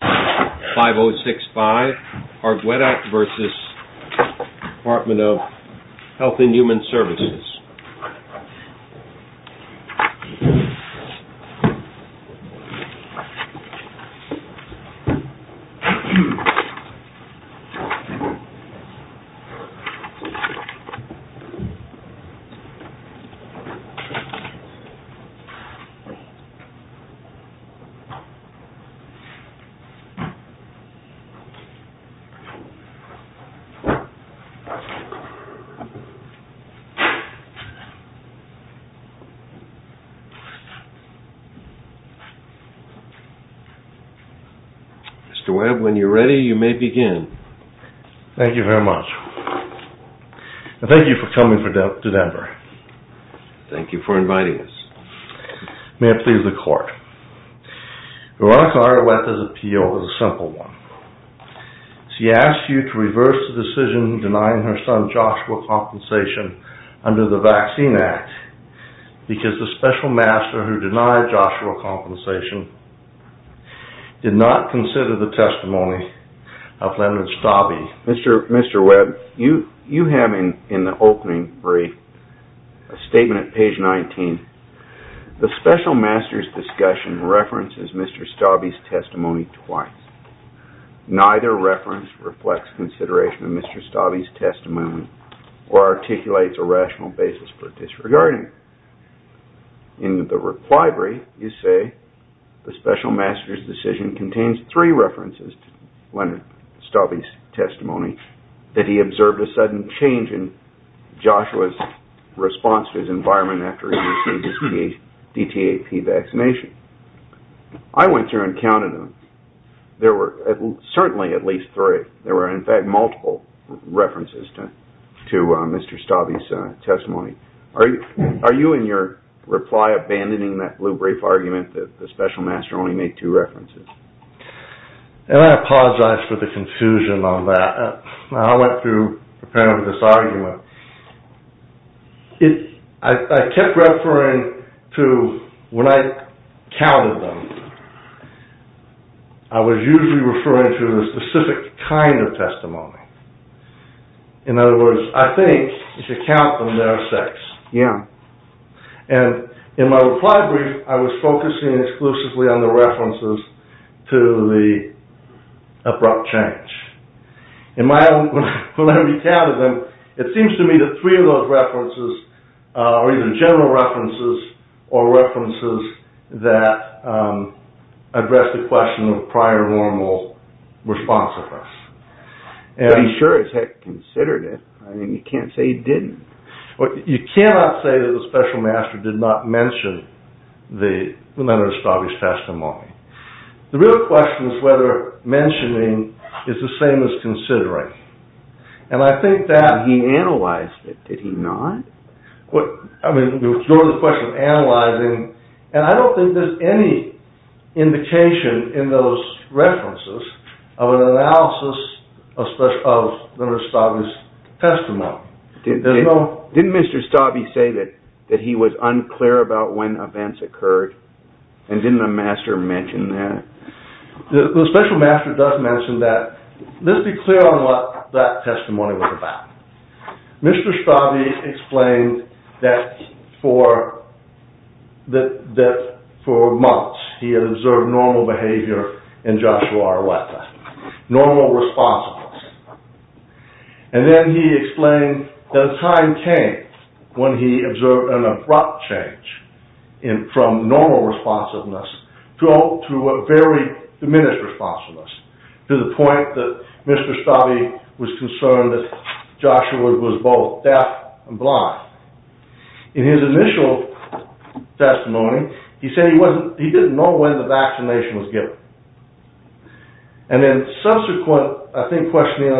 5065 ARGUETA v. Department of Health and Human Services Mr. Webb, when you are ready, you may begin. Thank you very much. I thank you for coming to Denver. Thank you for inviting us. May it please the court. Veronica Argueta's appeal is a simple one. She asked you to reverse the decision denying her son Joshua compensation under the Vaccine Act because the special master who denied Joshua compensation did not consider the testimony of Leonard Stabbe. Mr. Webb, you have in the opening brief a statement at page 19. The special master's discussion references Mr. Stabbe's testimony twice. Neither reference reflects consideration of Mr. Stabbe's testimony or articulates a rational basis for disregarding it. In the reply brief, you say the special master's changed three references to Leonard Stabbe's testimony that he observed a sudden change in Joshua's response to his environment after he received his DTAP vaccination. I went through and counted them. There were certainly at least three. There were, in fact, multiple references to Mr. Stabbe's testimony. Are you in your reply abandoning that brief argument that the special master only made two references? I apologize for the confusion on that. I went through preparing for this argument. I kept referring to when I counted them, I was usually referring to a specific kind of testimony. In other words, I think you should count them as their effects. In my reply brief, I was focusing exclusively on the references to the abrupt change. In my own, when I recounted them, it seems to me that three of those references are either general references or references that address the question of prior normal response of us. But he sure as heck considered it. I mean, you can't say he didn't. Well, you cannot say that the special master did not mention the Leonard Stabbe's testimony. The real question is whether mentioning is the same as considering. And I think that he analyzed it, did he not? Well, I mean, you go to the question of analyzing, and I don't think there's any indication in those references of an analysis of Leonard Stabbe's testimony. Didn't Mr. Stabbe say that he was unclear about when events occurred? And didn't the master mention that? The special master does mention that. Let's be clear on what that testimony was about. Mr. Stabbe explained that for months he had observed normal behavior in Joshua Arrueta, normal responsiveness. And then he explained that a time came when he observed an abrupt change from normal responsiveness to a very diminished responsiveness, to the point that Mr. Stabbe was concerned that Joshua was both deaf and blind. In his initial testimony, he said he didn't know when the vaccination was given. And then subsequent, I think, questioning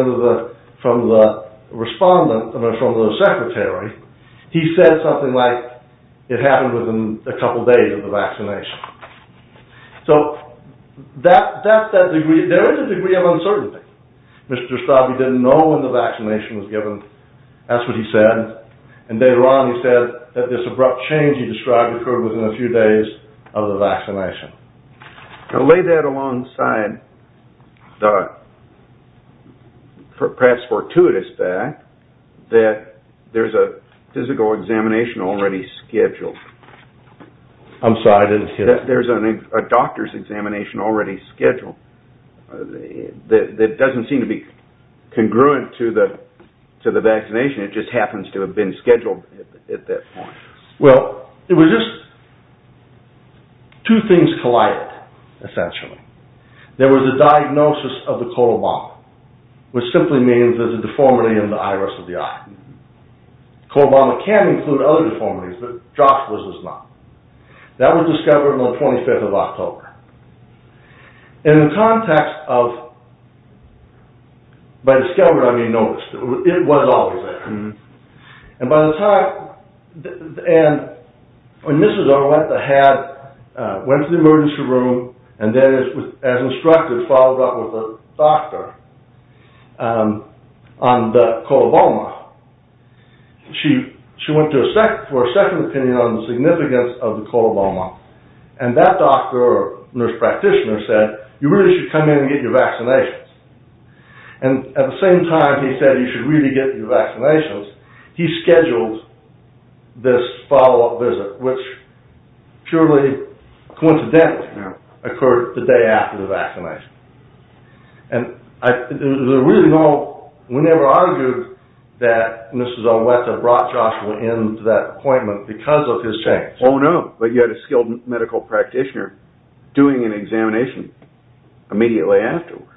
from the respondent, from the secretary, he said something like, it happened within a couple days of the vaccination. So, there is a degree of uncertainty. Mr. Stabbe didn't know when the vaccination was given. That's what he said. And later on, he said that this abrupt change he described occurred within a few days of the vaccination. Now, lay that alongside the perhaps fortuitous fact that there's a physical examination already scheduled. I'm sorry, I didn't hear that. There's a doctor's examination already scheduled. It doesn't seem to be congruent to the vaccination. It just happens to have been scheduled at that point. Well, it was just two things collided, essentially. There was a diagnosis of the colobama, which simply means there's a deformity in the iris of the eye. Colobama can include other deformities, but Joshua's does not. That was discovered on the 25th of October. In the context of, by discovered, I mean noticed. It was always there. And by the time, and when Mrs. Arletta went to the emergency room, and then as instructed, followed up with a doctor on the colobama, she went for a second opinion on the significance of the colobama. And that doctor or nurse practitioner said, you really should come in and get your vaccinations. And at the same time he said you should really get your vaccinations, he scheduled this follow-up visit, which purely coincidentally occurred the day after the vaccination. And there's a reason we never argued that Mrs. Arletta brought Joshua into that appointment because of his change. Oh no, but you had a skilled medical practitioner doing an examination immediately afterwards.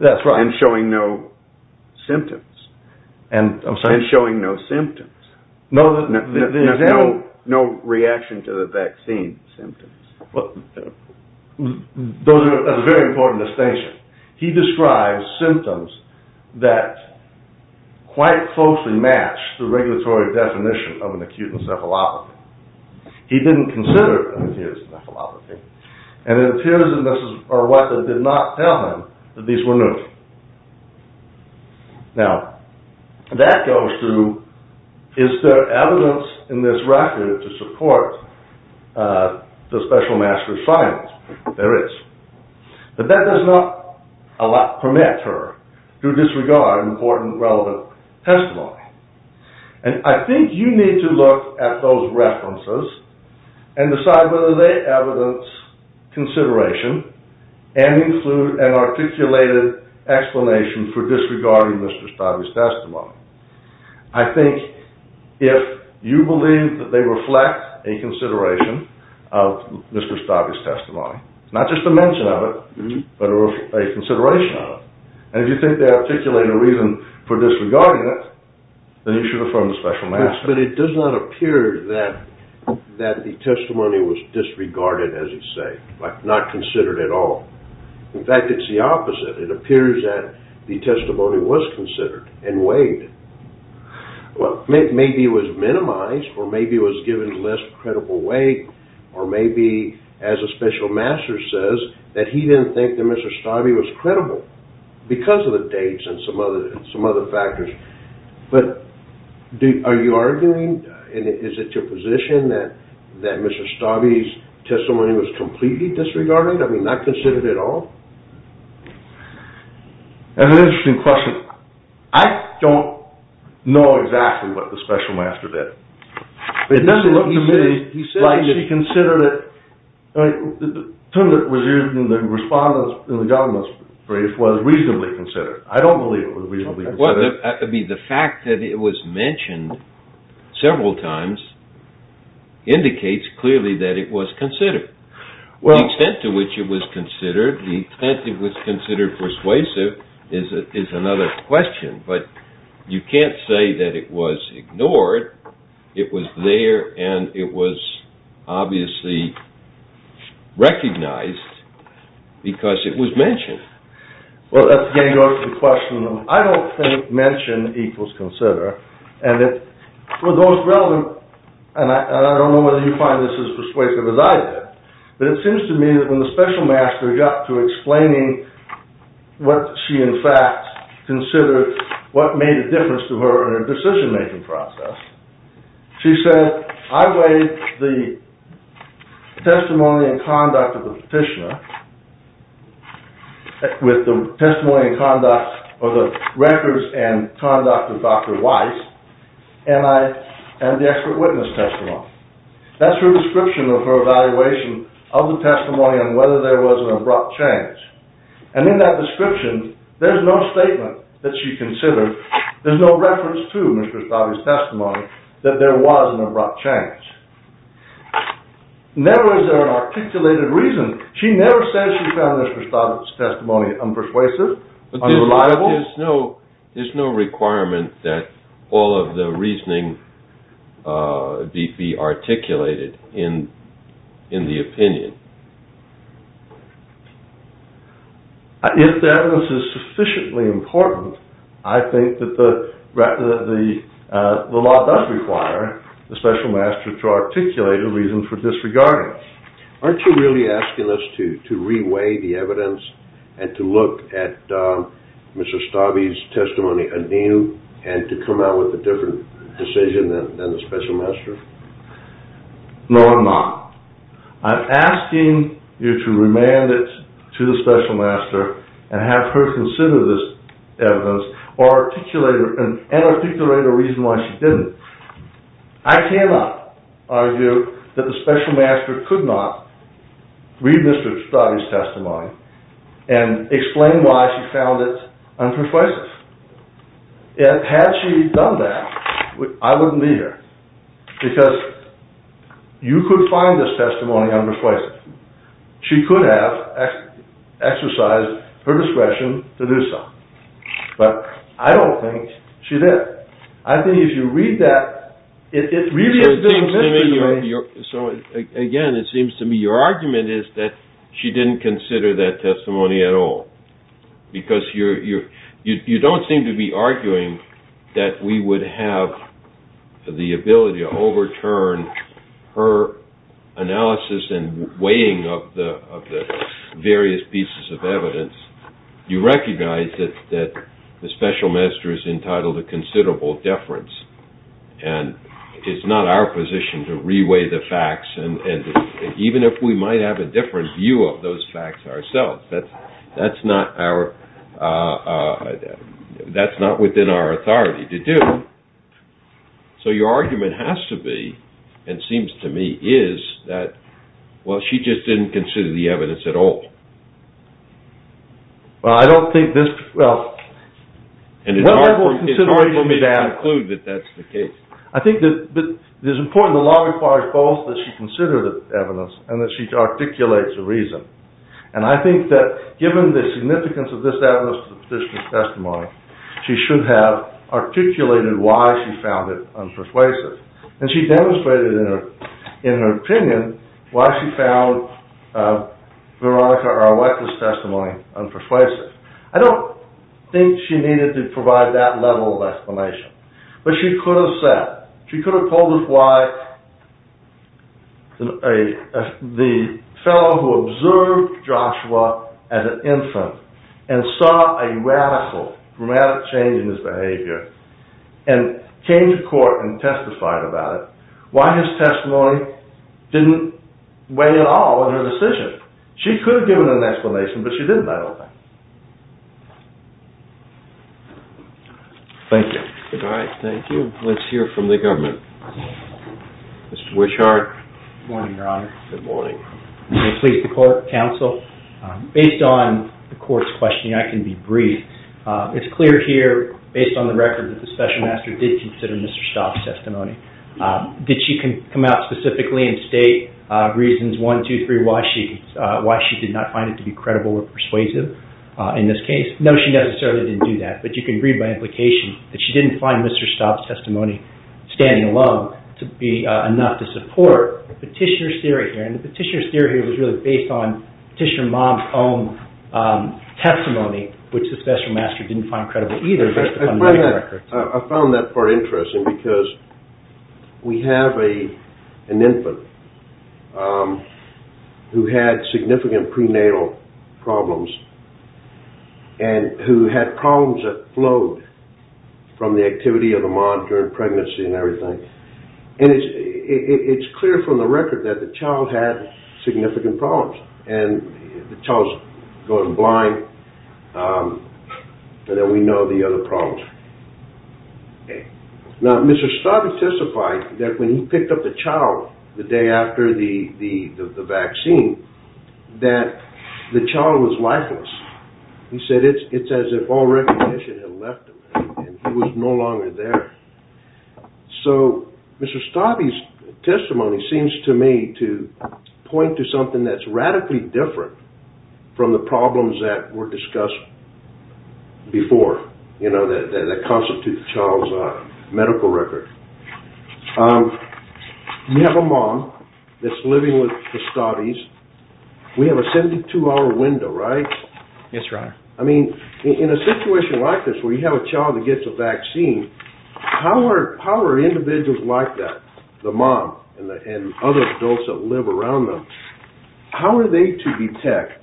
That's right. And showing no symptoms. And I'm sorry? And showing no symptoms. No reaction to the vaccine symptoms. Those are very important distinctions. He describes symptoms that quite closely match the regulatory definition of an acute encephalopathy. He didn't consider it an acute encephalopathy. And it appears that Mrs. Arletta did not tell him that these were new. Now, that goes to, is there evidence in this record to support the special master's findings? There is. But that does not permit her to disregard important relevant testimony. And I think you need to look at those references and decide whether they evidence consideration and include an articulated explanation for disregarding Mr. Stavey's testimony. I think if you believe that they reflect a consideration of Mr. Stavey's testimony, not just a mention of it, but a consideration of it, and if you think they articulate a reason for disregarding it, then you should affirm the matter. But it does not appear that the testimony was disregarded, as you say, like not considered at all. In fact, it's the opposite. It appears that the testimony was considered and weighed. Maybe it was minimized, or maybe it was given less credible weight, or maybe, as a special master says, that he didn't think that Mr. Stavey was credible because of the dates and some other factors. But are you arguing, and is it your position, that Mr. Stavey's testimony was completely disregarded? I mean, not considered at all? That's an interesting question. I don't know exactly what the special master did. It doesn't look to me like he considered it. The term that was used in the response in the government's brief was reasonably considered. I don't believe it was reasonably considered. Well, I mean, the fact that it was mentioned several times indicates clearly that it was considered. The extent to which it was considered, the extent it was considered persuasive is another question. But you can't say that it was ignored. It was there, and it was obviously recognized because it was mentioned. Well, that's getting over to the question of, I don't think mentioned equals consider. And for those relevant, and I don't know whether you find this as persuasive as I did, but it seems to me that when the special master got to explaining what she in fact considered what made a difference to her in her decision-making process, she said, I weighed the testimony and conduct of the petitioner with the testimony and conduct of the records and conduct of Dr. Weiss, and the expert witness testimony. That's her description of her evaluation of the testimony and whether there was an abrupt change. And in that description, there's no statement that she considered. There's no reference to Mr. Stabe's testimony that there was an abrupt change. Never was there an articulated reason. She never said she found Mr. Stabe's testimony unpersuasive, unreliable. There's no requirement that all of the reasoning be articulated in the opinion. If the evidence is sufficiently important, I think that the law does require the special master to articulate a reason for disregarding it. Aren't you really asking us to reweigh the testimony anew and to come out with a different decision than the special master? No, I'm not. I'm asking you to remand it to the special master and have her consider this evidence and articulate a reason why she didn't. I cannot argue that the special master could not read Mr. Stabe's testimony and explain why she found it unpersuasive. Had she done that, I wouldn't be here. Because you could find this testimony unpersuasive. She could have exercised her discretion to do so. But I don't think she did. I think if you read that, it really is a misdemeanor. So again, it seems to me your argument is that she didn't consider that testimony at all. Because you don't seem to be arguing that we would have the ability to overturn her analysis and weighing of the various pieces of evidence. You recognize that the special master is entitled to considerable deference, and it's not our position to reweigh the facts. Even if we might have a different view of those facts ourselves, that's not within our authority to do. So your argument has to be, and seems to me, is that she just didn't consider the evidence at all. Well, I don't think this, well. And it's hard for me to conclude that that's the case. I think that it is important that the law requires both that she consider the evidence and that she articulates the reason. And I think that given the significance of this evidence to the petitioner's testimony, she should have articulated why she found it unpersuasive. And she demonstrated in her opinion why she found Veronica Arletka's testimony unpersuasive. I don't think she needed to provide that level of explanation. But she could have said, she could have told us why the fellow who observed Joshua as an infant and saw a radical, dramatic change in his behavior, and came to court and testified about it, why his testimony didn't weigh at all in her decision. She could have given an explanation, but she didn't, I don't think. Thank you. All right, thank you. Let's hear from the government. Mr. Wishart. Good morning, Your Honor. Good morning. Please, the court, counsel. Based on the court's questioning, I can be brief. It's clear here, based on the record, that the special master did consider Mr. Staub's testimony. Did she come out specifically and state reasons one, two, three, why she did not find it to be credible or persuasive in this case? No, she necessarily didn't do that. But you can read by implication that she didn't find Mr. Staub's testimony standing alone to be enough to support the petitioner's theory here. And the petitioner's theory here was really based on which the special master didn't find credible either. I found that part interesting because we have an infant who had significant prenatal problems and who had problems that flowed from the activity of the mom during pregnancy and everything. And it's clear from the record that the child had significant problems and the child's going blind. And then we know the other problems. Now, Mr. Staub testified that when he picked up the child the day after the vaccine, that the child was lifeless. He said it's as if all recognition had left him and he was no longer there. So Mr. Staub's testimony seems to me to point to something that's radically different from the problems that were discussed before, you know, that constitute the child's medical record. You have a mom that's living with the Staubies. We have a 72-hour window, right? That's right. I mean, in a situation like this where you have a child that gets a vaccine, how are individuals like that, the mom and other adults that live around them, how are they to detect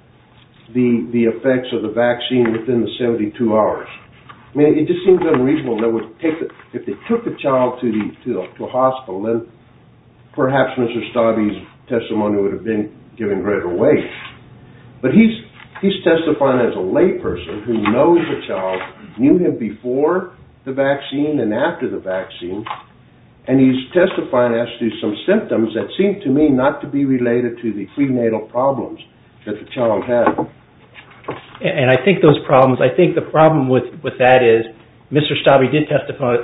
the effects of the vaccine within the 72 hours? I mean, it just seems unreasonable. If they took the child to the hospital, then perhaps Mr. Staubies' testimony would have been given greater weight. But he's testifying as a lay person who knows the child, knew him before the vaccine and after the vaccine, and he's testifying as to some symptoms that seem to me not to be related to the prenatal problems that the child had. And I think those problems, I think the problem with that is Mr. Staub, he did testify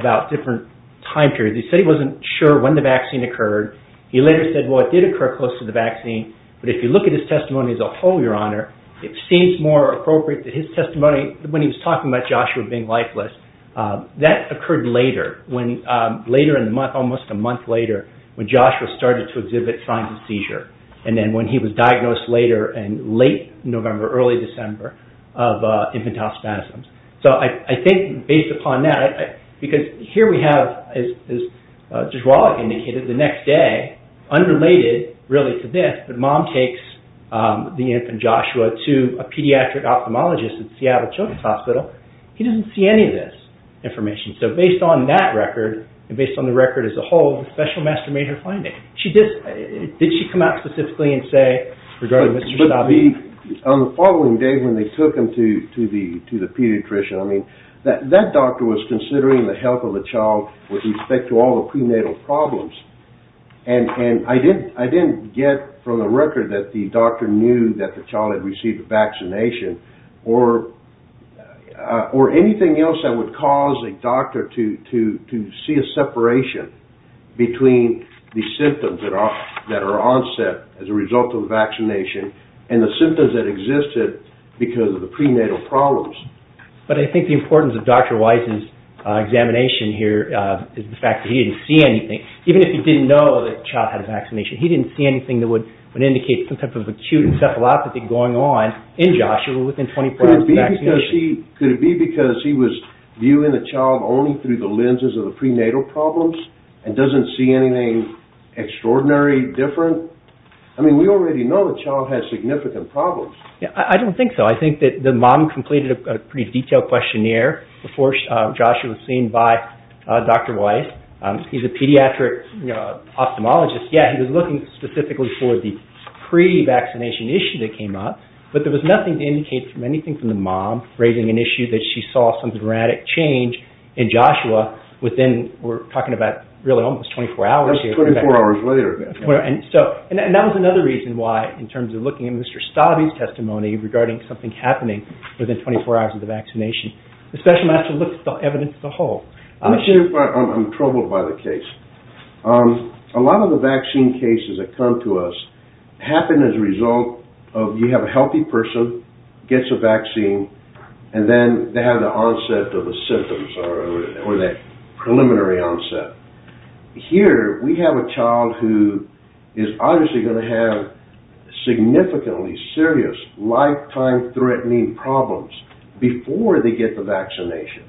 about different time periods. He said he wasn't sure when the vaccine occurred. He later said, well, it did occur close to the vaccine. But if you look at his testimony as a whole, Your Honor, it seems more appropriate that his testimony, when he was talking about Joshua being lifeless, that occurred later, when later in the month, almost a month later, when Joshua started to exhibit signs of seizure. And then when he was diagnosed later in late November, early December of infantile spasms. So I think based upon that, because here we have, as Judge Wallach indicated, the next day, unrelated really to this, but mom takes the infant Joshua to a pediatric ophthalmologist at Seattle Children's Hospital. He doesn't see any of this information. So based on that record, and based on the record as a whole, the special master made her find it. Did she come out specifically and say regarding Mr. Staub? On the following day when they took him to the pediatrician, I mean, that doctor was considering the health of the child with respect to all the prenatal problems. And I didn't get from the record that the doctor knew that the child had received a vaccination or anything else that would cause a doctor to see a separation between the symptoms that are onset as a result of the vaccination and the symptoms that existed because of the prenatal problems. But I think the importance of Dr. Weiss's examination here is the fact that he didn't see anything. Even if he didn't know that child had a vaccination, he didn't see anything that would indicate some type of acute encephalopathy going on in Joshua within 24 hours of vaccination. Could it be because he was viewing the child only through the lenses of the prenatal problems and doesn't see anything extraordinary different? I mean, we already know the child has significant problems. I don't think so. I think that the mom completed a pretty detailed questionnaire before Joshua was seen by Dr. Weiss. He's a pediatric ophthalmologist. Yeah, he was looking specifically for the pre-vaccination issue that came up, but there was nothing to indicate from the mom raising an issue that she saw some dramatic change in Joshua within, we're talking about really almost 24 hours. That's 24 hours later. And that was another reason why in terms of looking at Mr. Stabe's testimony regarding something happening within 24 hours of the vaccination, the special master looked at the evidence as a whole. I'm troubled by the case. A lot of the vaccine cases that come to us happen as a result of you have a healthy person, gets a vaccine, and then they have the onset of the symptoms or that preliminary onset. Here, we have a child who is obviously going to have significantly serious lifetime-threatening problems before they get the vaccination.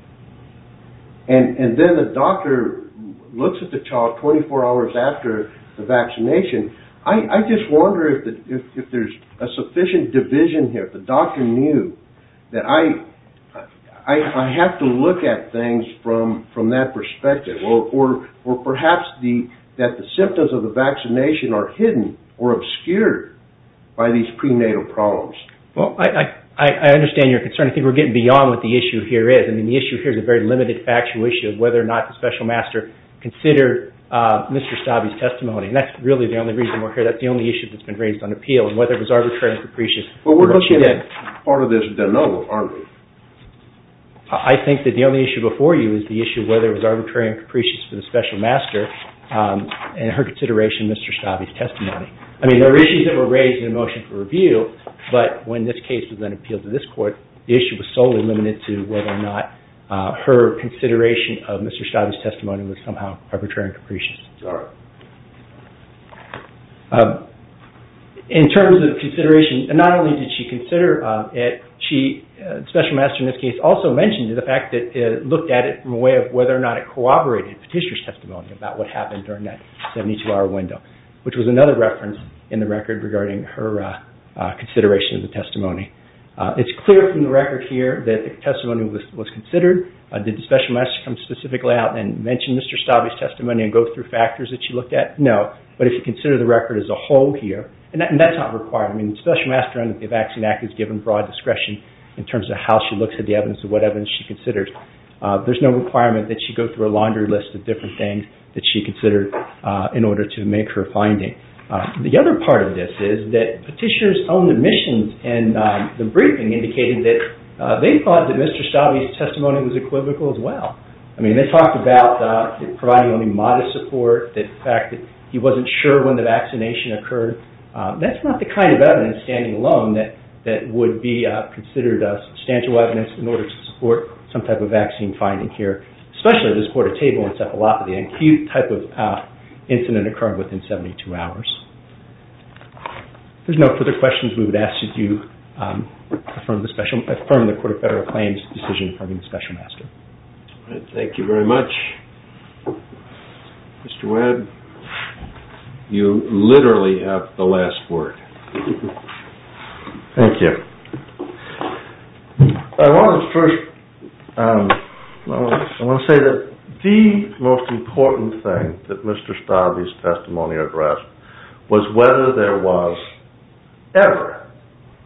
And then the doctor looks at the child 24 hours after the vaccination. I just wonder if there's a sufficient division here. If the doctor knew that I have to look at things from that perspective or perhaps that the symptoms of the vaccination are hidden or obscured by these prenatal problems. Well, I understand your concern. I think we're getting beyond what the issue here is. I mean, the issue here is a very and that's really the only reason we're here. That's the only issue that's been raised on appeal and whether it was arbitrary and capricious. But we're looking at part of this de novo, aren't we? I think that the only issue before you is the issue of whether it was arbitrary and capricious for the special master and her consideration of Mr. Stabe's testimony. I mean, there were issues that were raised in the motion for review, but when this case was then appealed to this court, the issue was solely limited to whether or not her consideration of arbitrary and capricious. In terms of consideration, not only did she consider it, special master in this case also mentioned the fact that it looked at it from a way of whether or not it corroborated Petitioner's testimony about what happened during that 72-hour window, which was another reference in the record regarding her consideration of the testimony. It's clear from the record here that the testimony was considered. Did the special master's testimony go through factors that she looked at? No, but if you consider the record as a whole here, and that's not required. I mean, special master in the Vaccine Act is given broad discretion in terms of how she looks at the evidence and what evidence she considers. There's no requirement that she go through a laundry list of different things that she considered in order to make her finding. The other part of this is that Petitioner's own admissions and the briefing indicated that they thought that Mr. Stabe's testimony was equivocal as well. I mean, they talked about providing only modest support, the fact that he wasn't sure when the vaccination occurred. That's not the kind of evidence, standing alone, that would be considered substantial evidence in order to support some type of vaccine finding here, especially this quarter table encephalopathy, an acute type of incident occurring within 72 hours. There's no further questions we would ask as you affirm the Court of Federal Claims' decision affirming the special master. Thank you very much. Mr. Webb, you literally have the last word. Thank you. I want to say that the most important thing that Mr. Stabe's testimony addressed was whether there was ever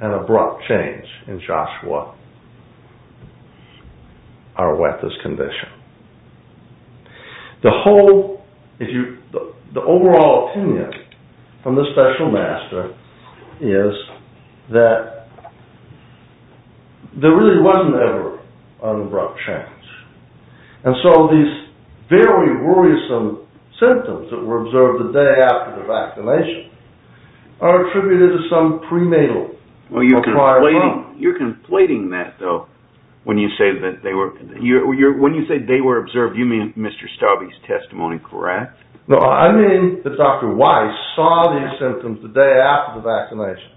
an abrupt change in Joshua Arweta's condition. The whole, if you, the overall opinion from the special master is that there really wasn't ever an abrupt change. And so these very worrisome symptoms that were observed the day after the vaccination are attributed to some prenatal. Well, you're conflating that, though, when you say that they were, when you say they were observed, you mean Mr. Stabe's testimony, correct? No, I mean that Dr. Weiss saw these symptoms the day after the vaccination.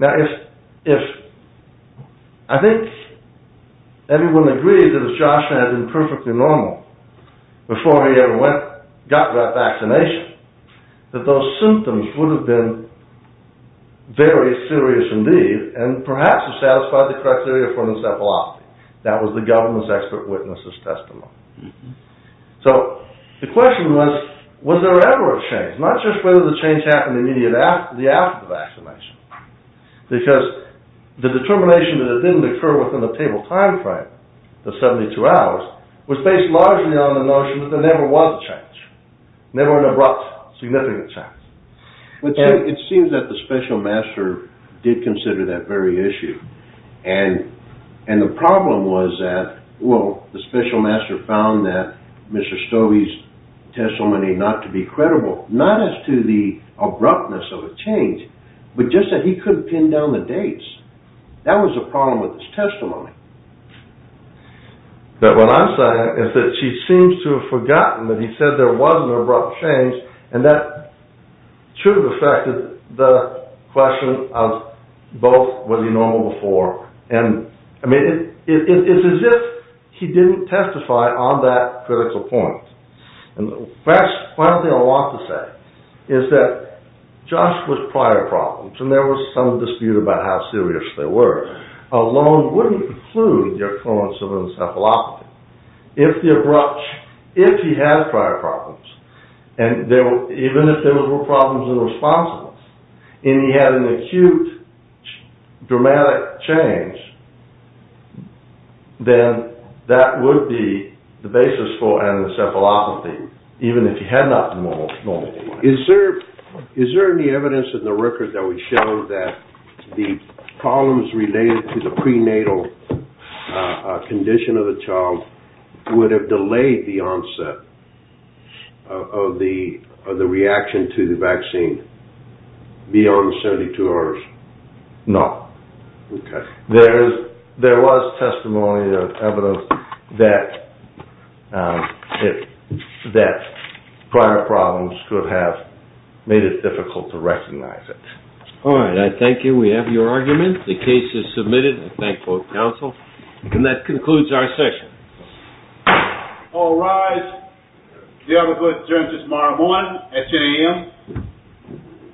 Now, if, I think everyone agrees that if Joshua had been perfectly normal before he ever went, got that vaccination, that those symptoms would have been very serious indeed, and perhaps have satisfied the criteria for encephalopathy. That was the government's expert witness's testimony. So the question was, was there ever a change? Not just whether the change happened immediately after the, after the vaccination, because the determination that it didn't occur within the table time frame, the 72 hours, was based largely on the notion that there never was a change, never an abrupt, significant change. It seems that the special master did consider that very issue. And, and the problem was that, well, the special master found that Mr. Stabe's testimony not to be credible, not as to the abruptness of a change, but just that he couldn't pin down the dates. That was a problem with his testimony. What I'm saying is that he seems to have forgotten that he said there was an abrupt change, and that should have affected the question of both, was he normal before? And, I mean, it's as if he didn't testify on that critical point. And perhaps the final thing I want to say is that just with prior problems, and there was some dispute about how serious they were, alone wouldn't include the occurrence of encephalopathy. If the abrupt, if he had prior problems, and there were, even if there were problems in response, and he had an acute, dramatic change, then that would be the basis for encephalopathy, even if he had not been normal. Is there, is there any evidence in the record that would show that the problems related to the prenatal condition of the child would have delayed the onset of the, of the reaction to the vaccine beyond 72 hours? No. Okay. There is, there was testimony of evidence that, if, that prior problems could have made it difficult to recognize it. All right. I thank you. We have your argument. The case is submitted. I thank both counsel. And that concludes our session. All rise. We have adjourned until tomorrow morning at 10 a.m.